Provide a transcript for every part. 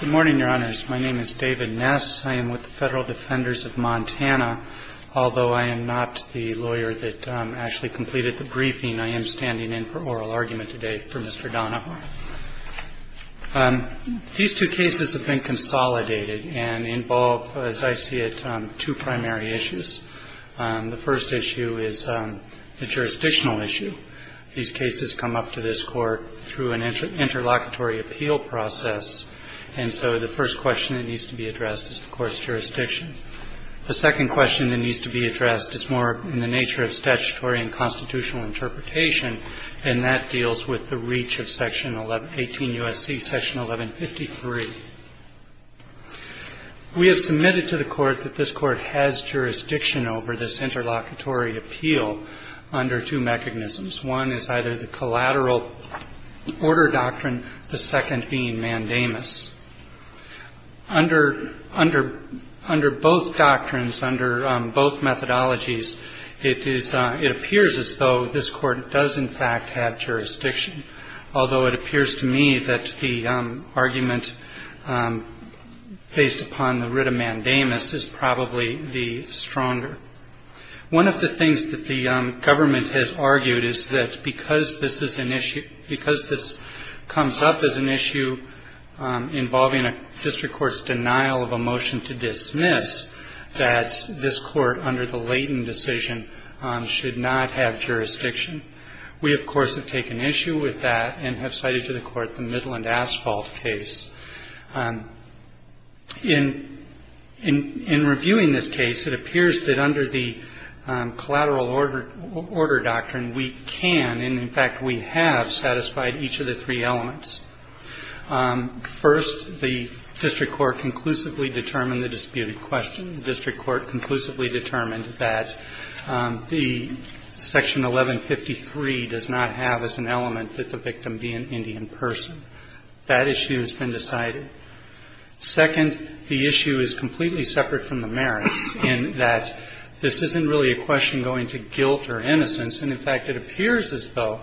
Good morning, Your Honors. My name is David Ness. I am with the Federal Defenders of Montana. Although I am not the lawyer that actually completed the briefing, I am standing in for oral argument today for Mr. Donahoe. These two cases have been consolidated and involve, as I see it, two primary issues. The first issue is a jurisdictional issue. These cases come up to this Court through an interlocutory appeal process, and so the first question that needs to be addressed is the Court's jurisdiction. The second question that needs to be addressed is more in the nature of statutory and constitutional interpretation, and that deals with the reach of Section 1118 U.S.C., Section 1153. We have submitted to the Court that this Court has jurisdiction over this interlocutory appeal under two mechanisms. One is either the collateral order doctrine, the second being mandamus. Under both doctrines, under both methodologies, it appears as though this Court does, in fact, have jurisdiction, although it appears to me that the argument based upon the writ of mandamus is probably the stronger. One of the things that the government has argued is that because this is an issue, because this comes up as an issue involving a district court's denial of a motion to dismiss, that this Court, under the Layton decision, should not have jurisdiction. We, of course, have taken issue with that and have cited to the Court the Midland Asphalt case. In reviewing this case, it appears that under the collateral order doctrine, we can and, in fact, we have satisfied each of the three elements. First, the district court conclusively determined the disputed question. The district court conclusively determined that the Section 1153 does not have as an element that the victim be an Indian person. That issue has been decided. Second, the issue is completely separate from the merits in that this isn't really a question going to guilt or innocence. And, in fact, it appears as though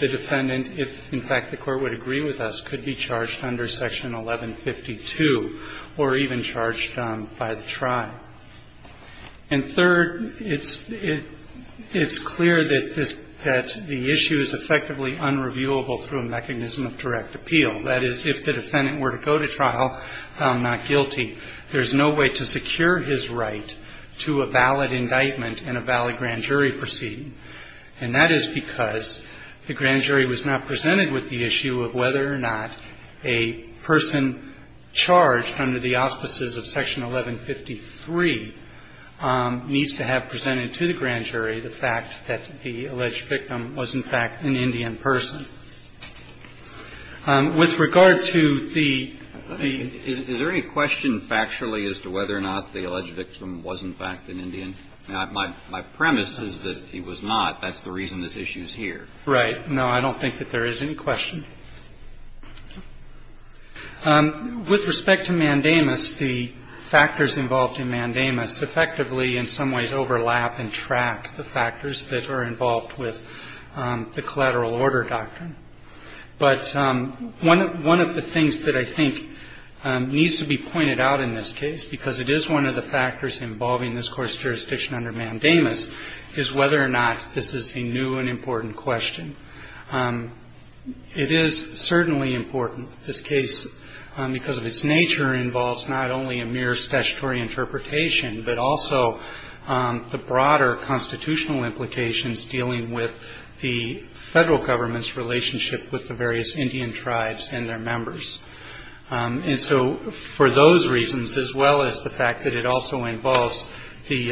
the defendant, if, in fact, the Court would agree with us, could be charged under Section 1152 or even charged by the tribe. And third, it's clear that the issue is effectively unreviewable through a mechanism of direct appeal. That is, if the defendant were to go to trial, found not guilty, there's no way to secure his right to a valid indictment and a valid grand jury proceeding. And that is because the grand jury was not presented with the issue of whether or not a person charged under the auspices of Section 1153 needs to have presented to the grand jury the fact that the alleged victim was, in fact, an Indian person. With regard to the the... Is there any question factually as to whether or not the alleged victim was, in fact, an Indian? My premise is that he was not. That's the reason this issue is here. Right. No, I don't think that there is any question. With respect to mandamus, the factors involved in mandamus effectively, in some ways, overlap and track the factors that are involved with the collateral order doctrine. But one of the things that I think needs to be pointed out in this case, because it is one of the factors involving this Court's jurisdiction under mandamus, is whether or not this is a new and important question. It is certainly important. This case, because of its nature, involves not only a mere statutory interpretation, but also the broader constitutional implications dealing with the Federal Government's relationship with the various Indian tribes and their members. And so for those reasons, as well as the fact that it also involves the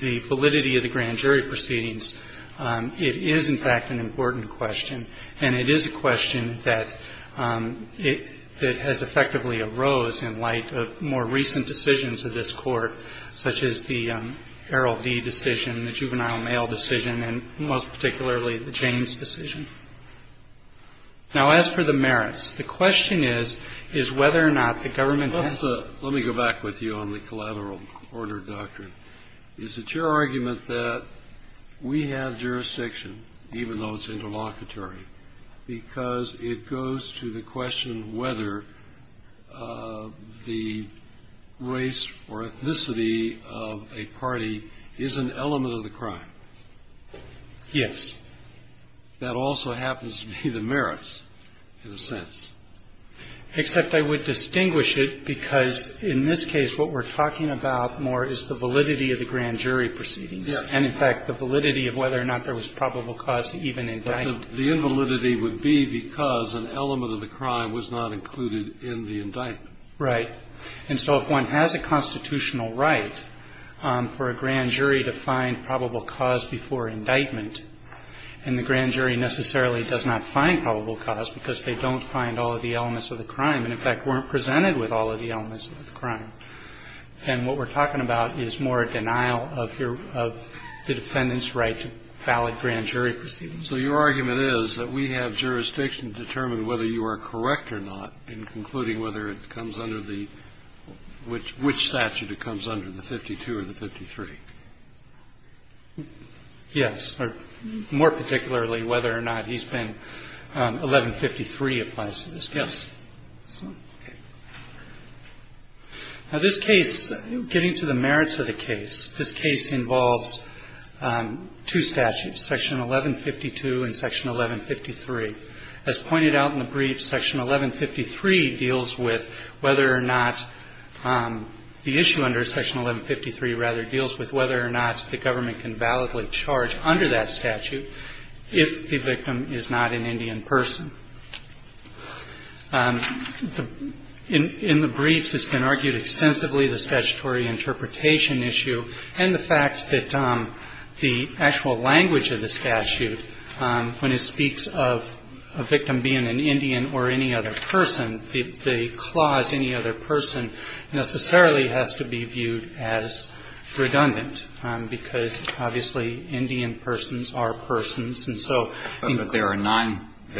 validity of the grand jury proceedings, it is, in fact, an important question. And it is a question that has effectively arose in light of more recent decisions of this Court, such as the Errol D. decision, the juvenile mail decision, and most particularly the James decision. Now, as for the merits, the question is, is whether or not the government has... Let me go back with you on the collateral order doctrine. Is it your argument that we have jurisdiction, even though it's interlocutory, because it goes to the question whether the race or ethnicity of a party is an element of the crime? Yes. That also happens to be the merits, in a sense. Except I would distinguish it because, in this case, what we're talking about more is the validity of the grand jury proceedings. Yes. And, in fact, the validity of whether or not there was probable cause to even indict. The invalidity would be because an element of the crime was not included in the indictment. Right. And so if one has a constitutional right for a grand jury to find probable cause before indictment, and the grand jury necessarily does not find probable cause because they don't find all of the elements of the crime and, in fact, weren't presented with all of the elements of the crime, then what we're talking about is more a denial of the defendant's right to valid grand jury proceedings. So your argument is that we have jurisdiction to determine whether you are correct or not in concluding whether it comes under the – which statute it comes under, the 52 or the 53? Yes. More particularly, whether or not he's been – 1153 applies to this case. Okay. Now, this case, getting to the merits of the case, this case involves two statutes, Section 1152 and Section 1153. As pointed out in the brief, Section 1153 deals with whether or not the issue under Section 1153, rather, deals with whether or not the government can validly charge under that statute if the victim is not an Indian person. In the briefs, it's been argued extensively the statutory interpretation issue and the fact that the actual language of the statute, when it speaks of a victim being an Indian or any other person, the clause, any other person, necessarily has to be viewed as redundant, because, obviously, Indian persons are persons, and so – Right. And there are non –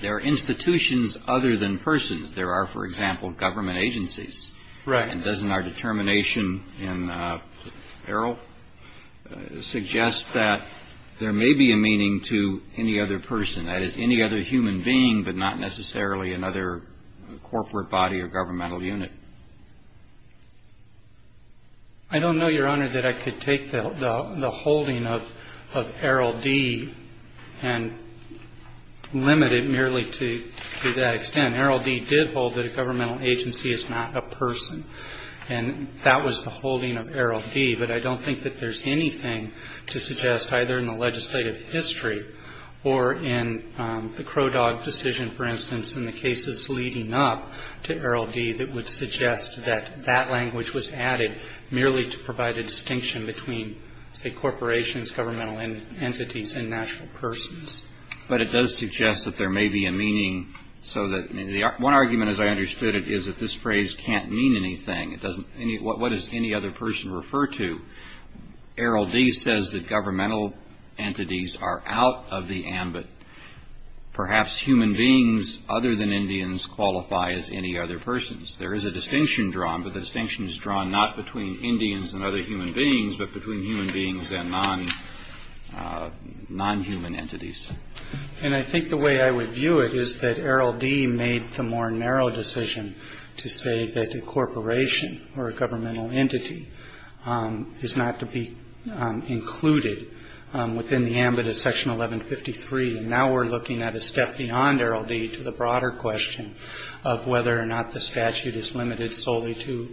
there are institutions other than persons. There are, for example, government agencies. Right. And doesn't our determination in Errol suggest that there may be a meaning to any other person, that is, any other human being, but not necessarily another corporate body or governmental unit? I don't know, Your Honor, that I could take the holding of Errol D. and limit it merely to that extent. Errol D. did hold that a governmental agency is not a person, and that was the holding of Errol D., but I don't think that there's anything to suggest, either in the legislative history or in the Crow Dog decision, for instance, in the cases leading up to Errol D. that would suggest that that language was added merely to provide a distinction between, say, corporations, governmental entities, and national persons. But it does suggest that there may be a meaning so that – I mean, the one argument, as I understood it, is that this phrase can't mean anything. It doesn't – what does any other person refer to? Errol D. says that governmental entities are out of the ambit. Perhaps human beings other than Indians qualify as any other persons. There is a distinction drawn, but the distinction is drawn not between Indians and other human beings, but between human beings and non-human entities. And I think the way I would view it is that Errol D. made the more narrow decision to say that a corporation or a governmental entity is not to be included within the ambit of Section 1153. And now we're looking at a step beyond Errol D. to the broader question of whether or not the statute is limited solely to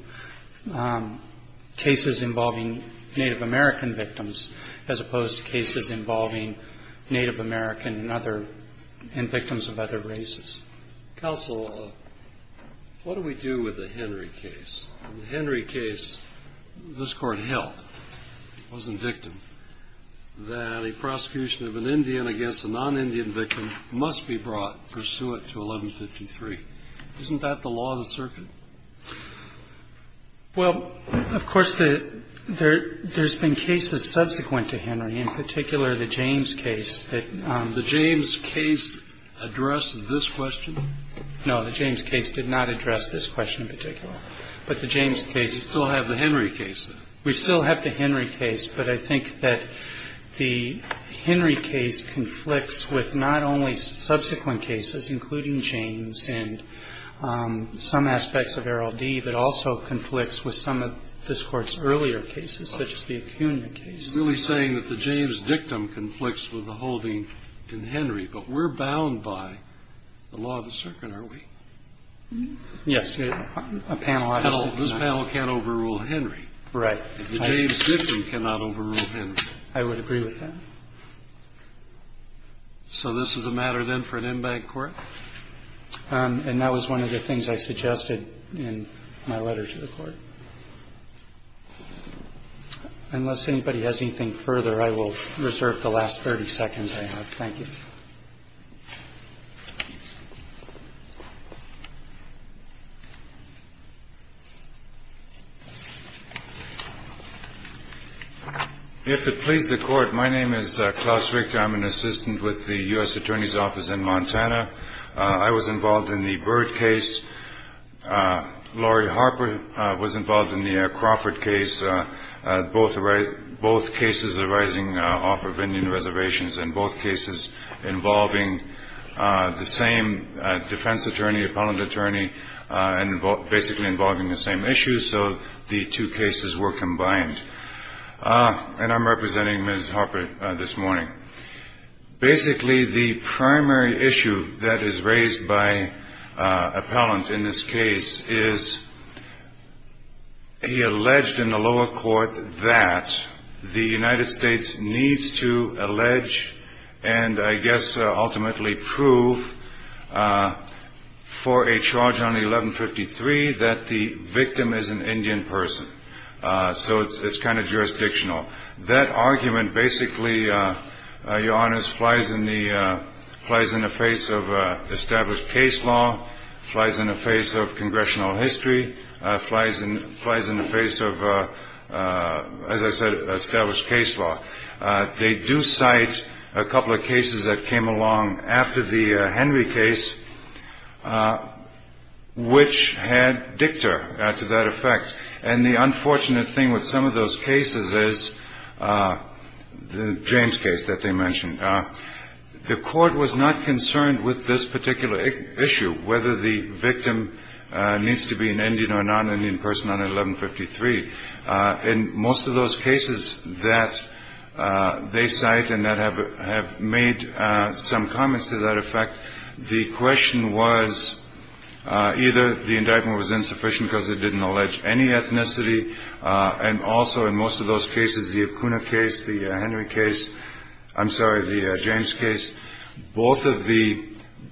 cases involving Native American victims as opposed to cases involving Native American and other – and victims of other races. Counsel, what do we do with the Henry case? In the Henry case, this Court held – it wasn't victim – that a prosecution of an Indian against a non-Indian victim must be brought pursuant to 1153. Isn't that the law of the circuit? Well, of course, there's been cases subsequent to Henry, in particular the James case. The James case addressed this question? No, the James case did not address this question in particular. But the James case – You still have the Henry case, then? We still have the Henry case, but I think that the Henry case conflicts with not only subsequent cases, including James and some aspects of Errol D., but also conflicts with some of this Court's earlier cases, such as the Acuna case. You're really saying that the James dictum conflicts with the holding in Henry, but we're bound by the law of the circuit, are we? Yes. A panel – This panel can't overrule Henry. Right. The James dictum cannot overrule Henry. I would agree with that. So this is a matter, then, for an MBAG court? And that was one of the things I suggested in my letter to the Court. Unless anybody has anything further, I will reserve the last 30 seconds I have. Thank you. If it please the Court, my name is Klaus Richter. I'm an assistant with the U.S. Attorney's Office in Montana. I was involved in the Byrd case. Lori Harper was involved in the Crawford case, both cases arising off of Indian reservations, and both cases involving the same defense attorney, appellant attorney, and basically involving the same issues. So the two cases were combined. And I'm representing Ms. Harper this morning. Basically, the primary issue that is raised by appellant in this case is he alleged in the lower court that the United States needs to allege and, I guess, ultimately prove for a charge on 1153 that the victim is an Indian person. So it's kind of jurisdictional. That argument basically, Your Honors, flies in the face of established case law, flies in the face of congressional history, flies in the face of, as I said, established case law. They do cite a couple of cases that came along after the Henry case, which had dicta to that effect. And the unfortunate thing with some of those cases is the James case that they mentioned. The court was not concerned with this particular issue, whether the victim needs to be an Indian or non-Indian person on 1153. In most of those cases that they cite and that have made some comments to that effect, the question was either the indictment was insufficient because it didn't allege any ethnicity. And also, in most of those cases, the Acuna case, the Henry case. I'm sorry, the James case. Both of the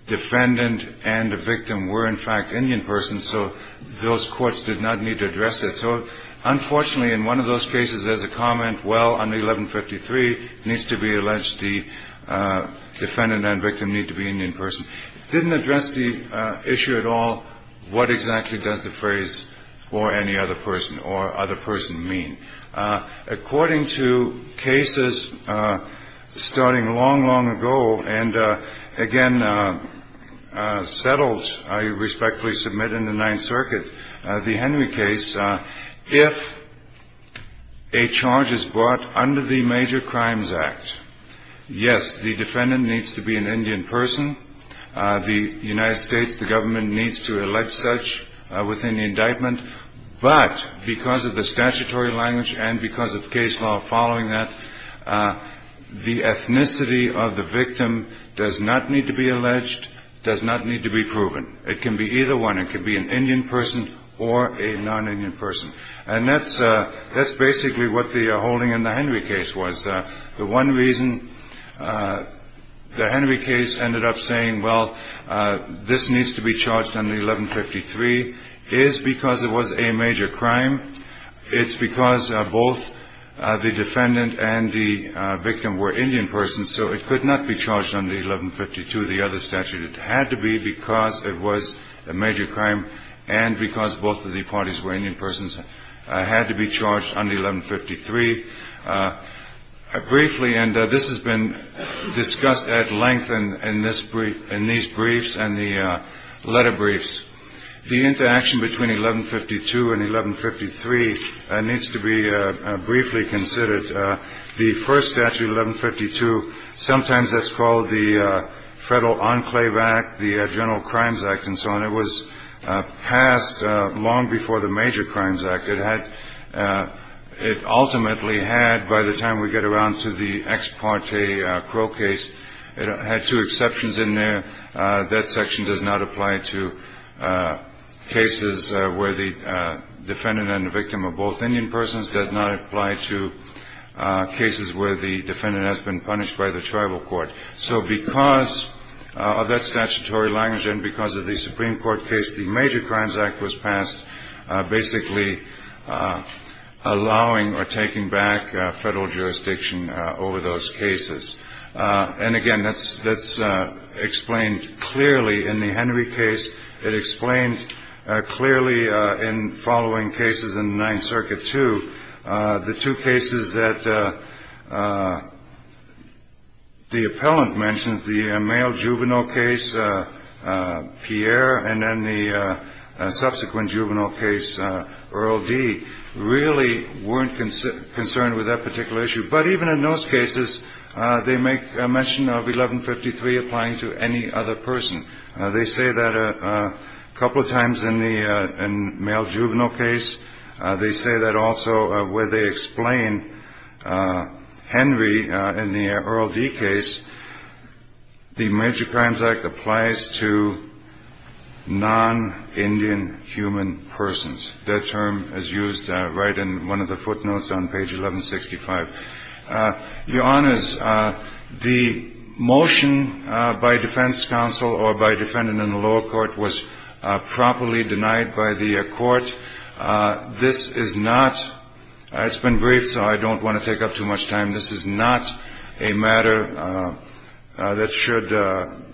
defendant and the victim were, in fact, Indian persons. So those courts did not need to address it. So unfortunately, in one of those cases, there's a comment, well, on 1153, it needs to be alleged the defendant and victim need to be an Indian person. It didn't address the issue at all. What exactly does the phrase or any other person or other person mean? According to cases starting long, long ago and, again, settled, I respectfully submit, in the Ninth Circuit, the Henry case, if a charge is brought under the Major Crimes Act, yes, the defendant needs to be an Indian person. The United States, the government needs to allege such within the indictment. But because of the statutory language and because of case law following that, the ethnicity of the victim does not need to be alleged, does not need to be proven. It can be either one. It can be an Indian person or a non-Indian person. And that's basically what the holding in the Henry case was. The one reason the Henry case ended up saying, well, this needs to be charged under 1153 is because it was a major crime. It's because both the defendant and the victim were Indian persons, so it could not be charged under 1152, the other statute. It had to be because it was a major crime and because both of the parties were Indian persons. It had to be charged under 1153. Briefly, and this has been discussed at length in these briefs and the letter briefs, the interaction between 1152 and 1153 needs to be briefly considered. The first statute, 1152, sometimes that's called the Federal Enclave Act, the General Crimes Act, and so on. It was passed long before the Major Crimes Act. It ultimately had, by the time we get around to the ex parte Crow case, it had two exceptions in there. That section does not apply to cases where the defendant and the victim are both Indian persons, does not apply to cases where the defendant has been punished by the tribal court. So because of that statutory language and because of the Supreme Court case, the Major Crimes Act was passed basically allowing or taking back federal jurisdiction over those cases. And, again, that's explained clearly in the Henry case. It explained clearly in following cases in the Ninth Circuit, too. The two cases that the appellant mentions, the male juvenile case, Pierre, and then the subsequent juvenile case, Earl D., really weren't concerned with that particular issue. But even in those cases, they make mention of 1153 applying to any other person. They say that a couple of times in the male juvenile case. They say that also where they explain Henry in the Earl D. case, the Major Crimes Act applies to non-Indian human persons. That term is used right in one of the footnotes on page 1165. Your Honors, the motion by defense counsel or by defendant in the lower court was properly denied by the court. This is not – it's been briefed, so I don't want to take up too much time. This is not a matter that should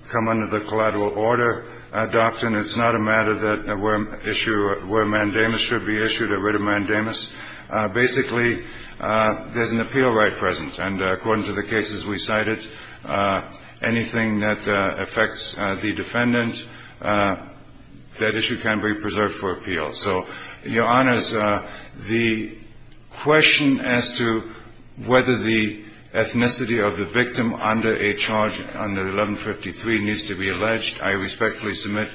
come under the collateral order doctrine. It's not a matter where mandamus should be issued or writ of mandamus. Basically, there's an appeal right present. And according to the cases we cited, anything that affects the defendant, that issue can be preserved for appeal. So, Your Honors, the question as to whether the ethnicity of the victim under a charge under 1153 needs to be alleged, I respectfully submit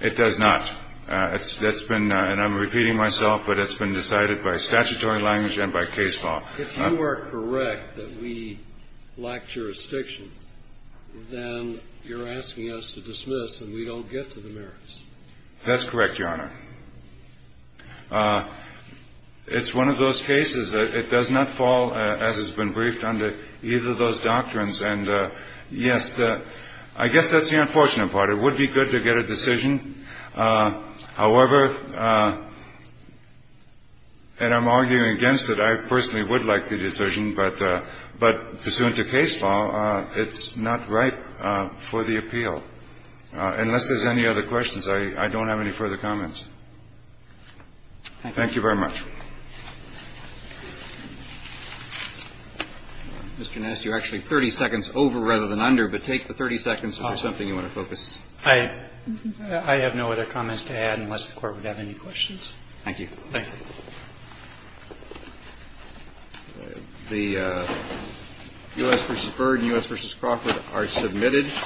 it does not. It's been – and I'm repeating myself, but it's been decided by statutory language and by case law. If you are correct that we lack jurisdiction, then you're asking us to dismiss and we don't get to the merits. That's correct, Your Honor. It's one of those cases. It does not fall, as has been briefed, under either of those doctrines. And, yes, I guess that's the unfortunate part. It would be good to get a decision. However, and I'm arguing against it, I personally would like the decision, but pursuant to case law, it's not ripe for the appeal. Unless there's any other questions, I don't have any further comments. Thank you very much. Mr. Nass, you're actually 30 seconds over rather than under, but take the 30 seconds if there's something you want to focus. I have no other comments to add unless the Court would have any questions. Thank you. Thank you. The U.S. v. Byrd and U.S. v. Crawford are submitted.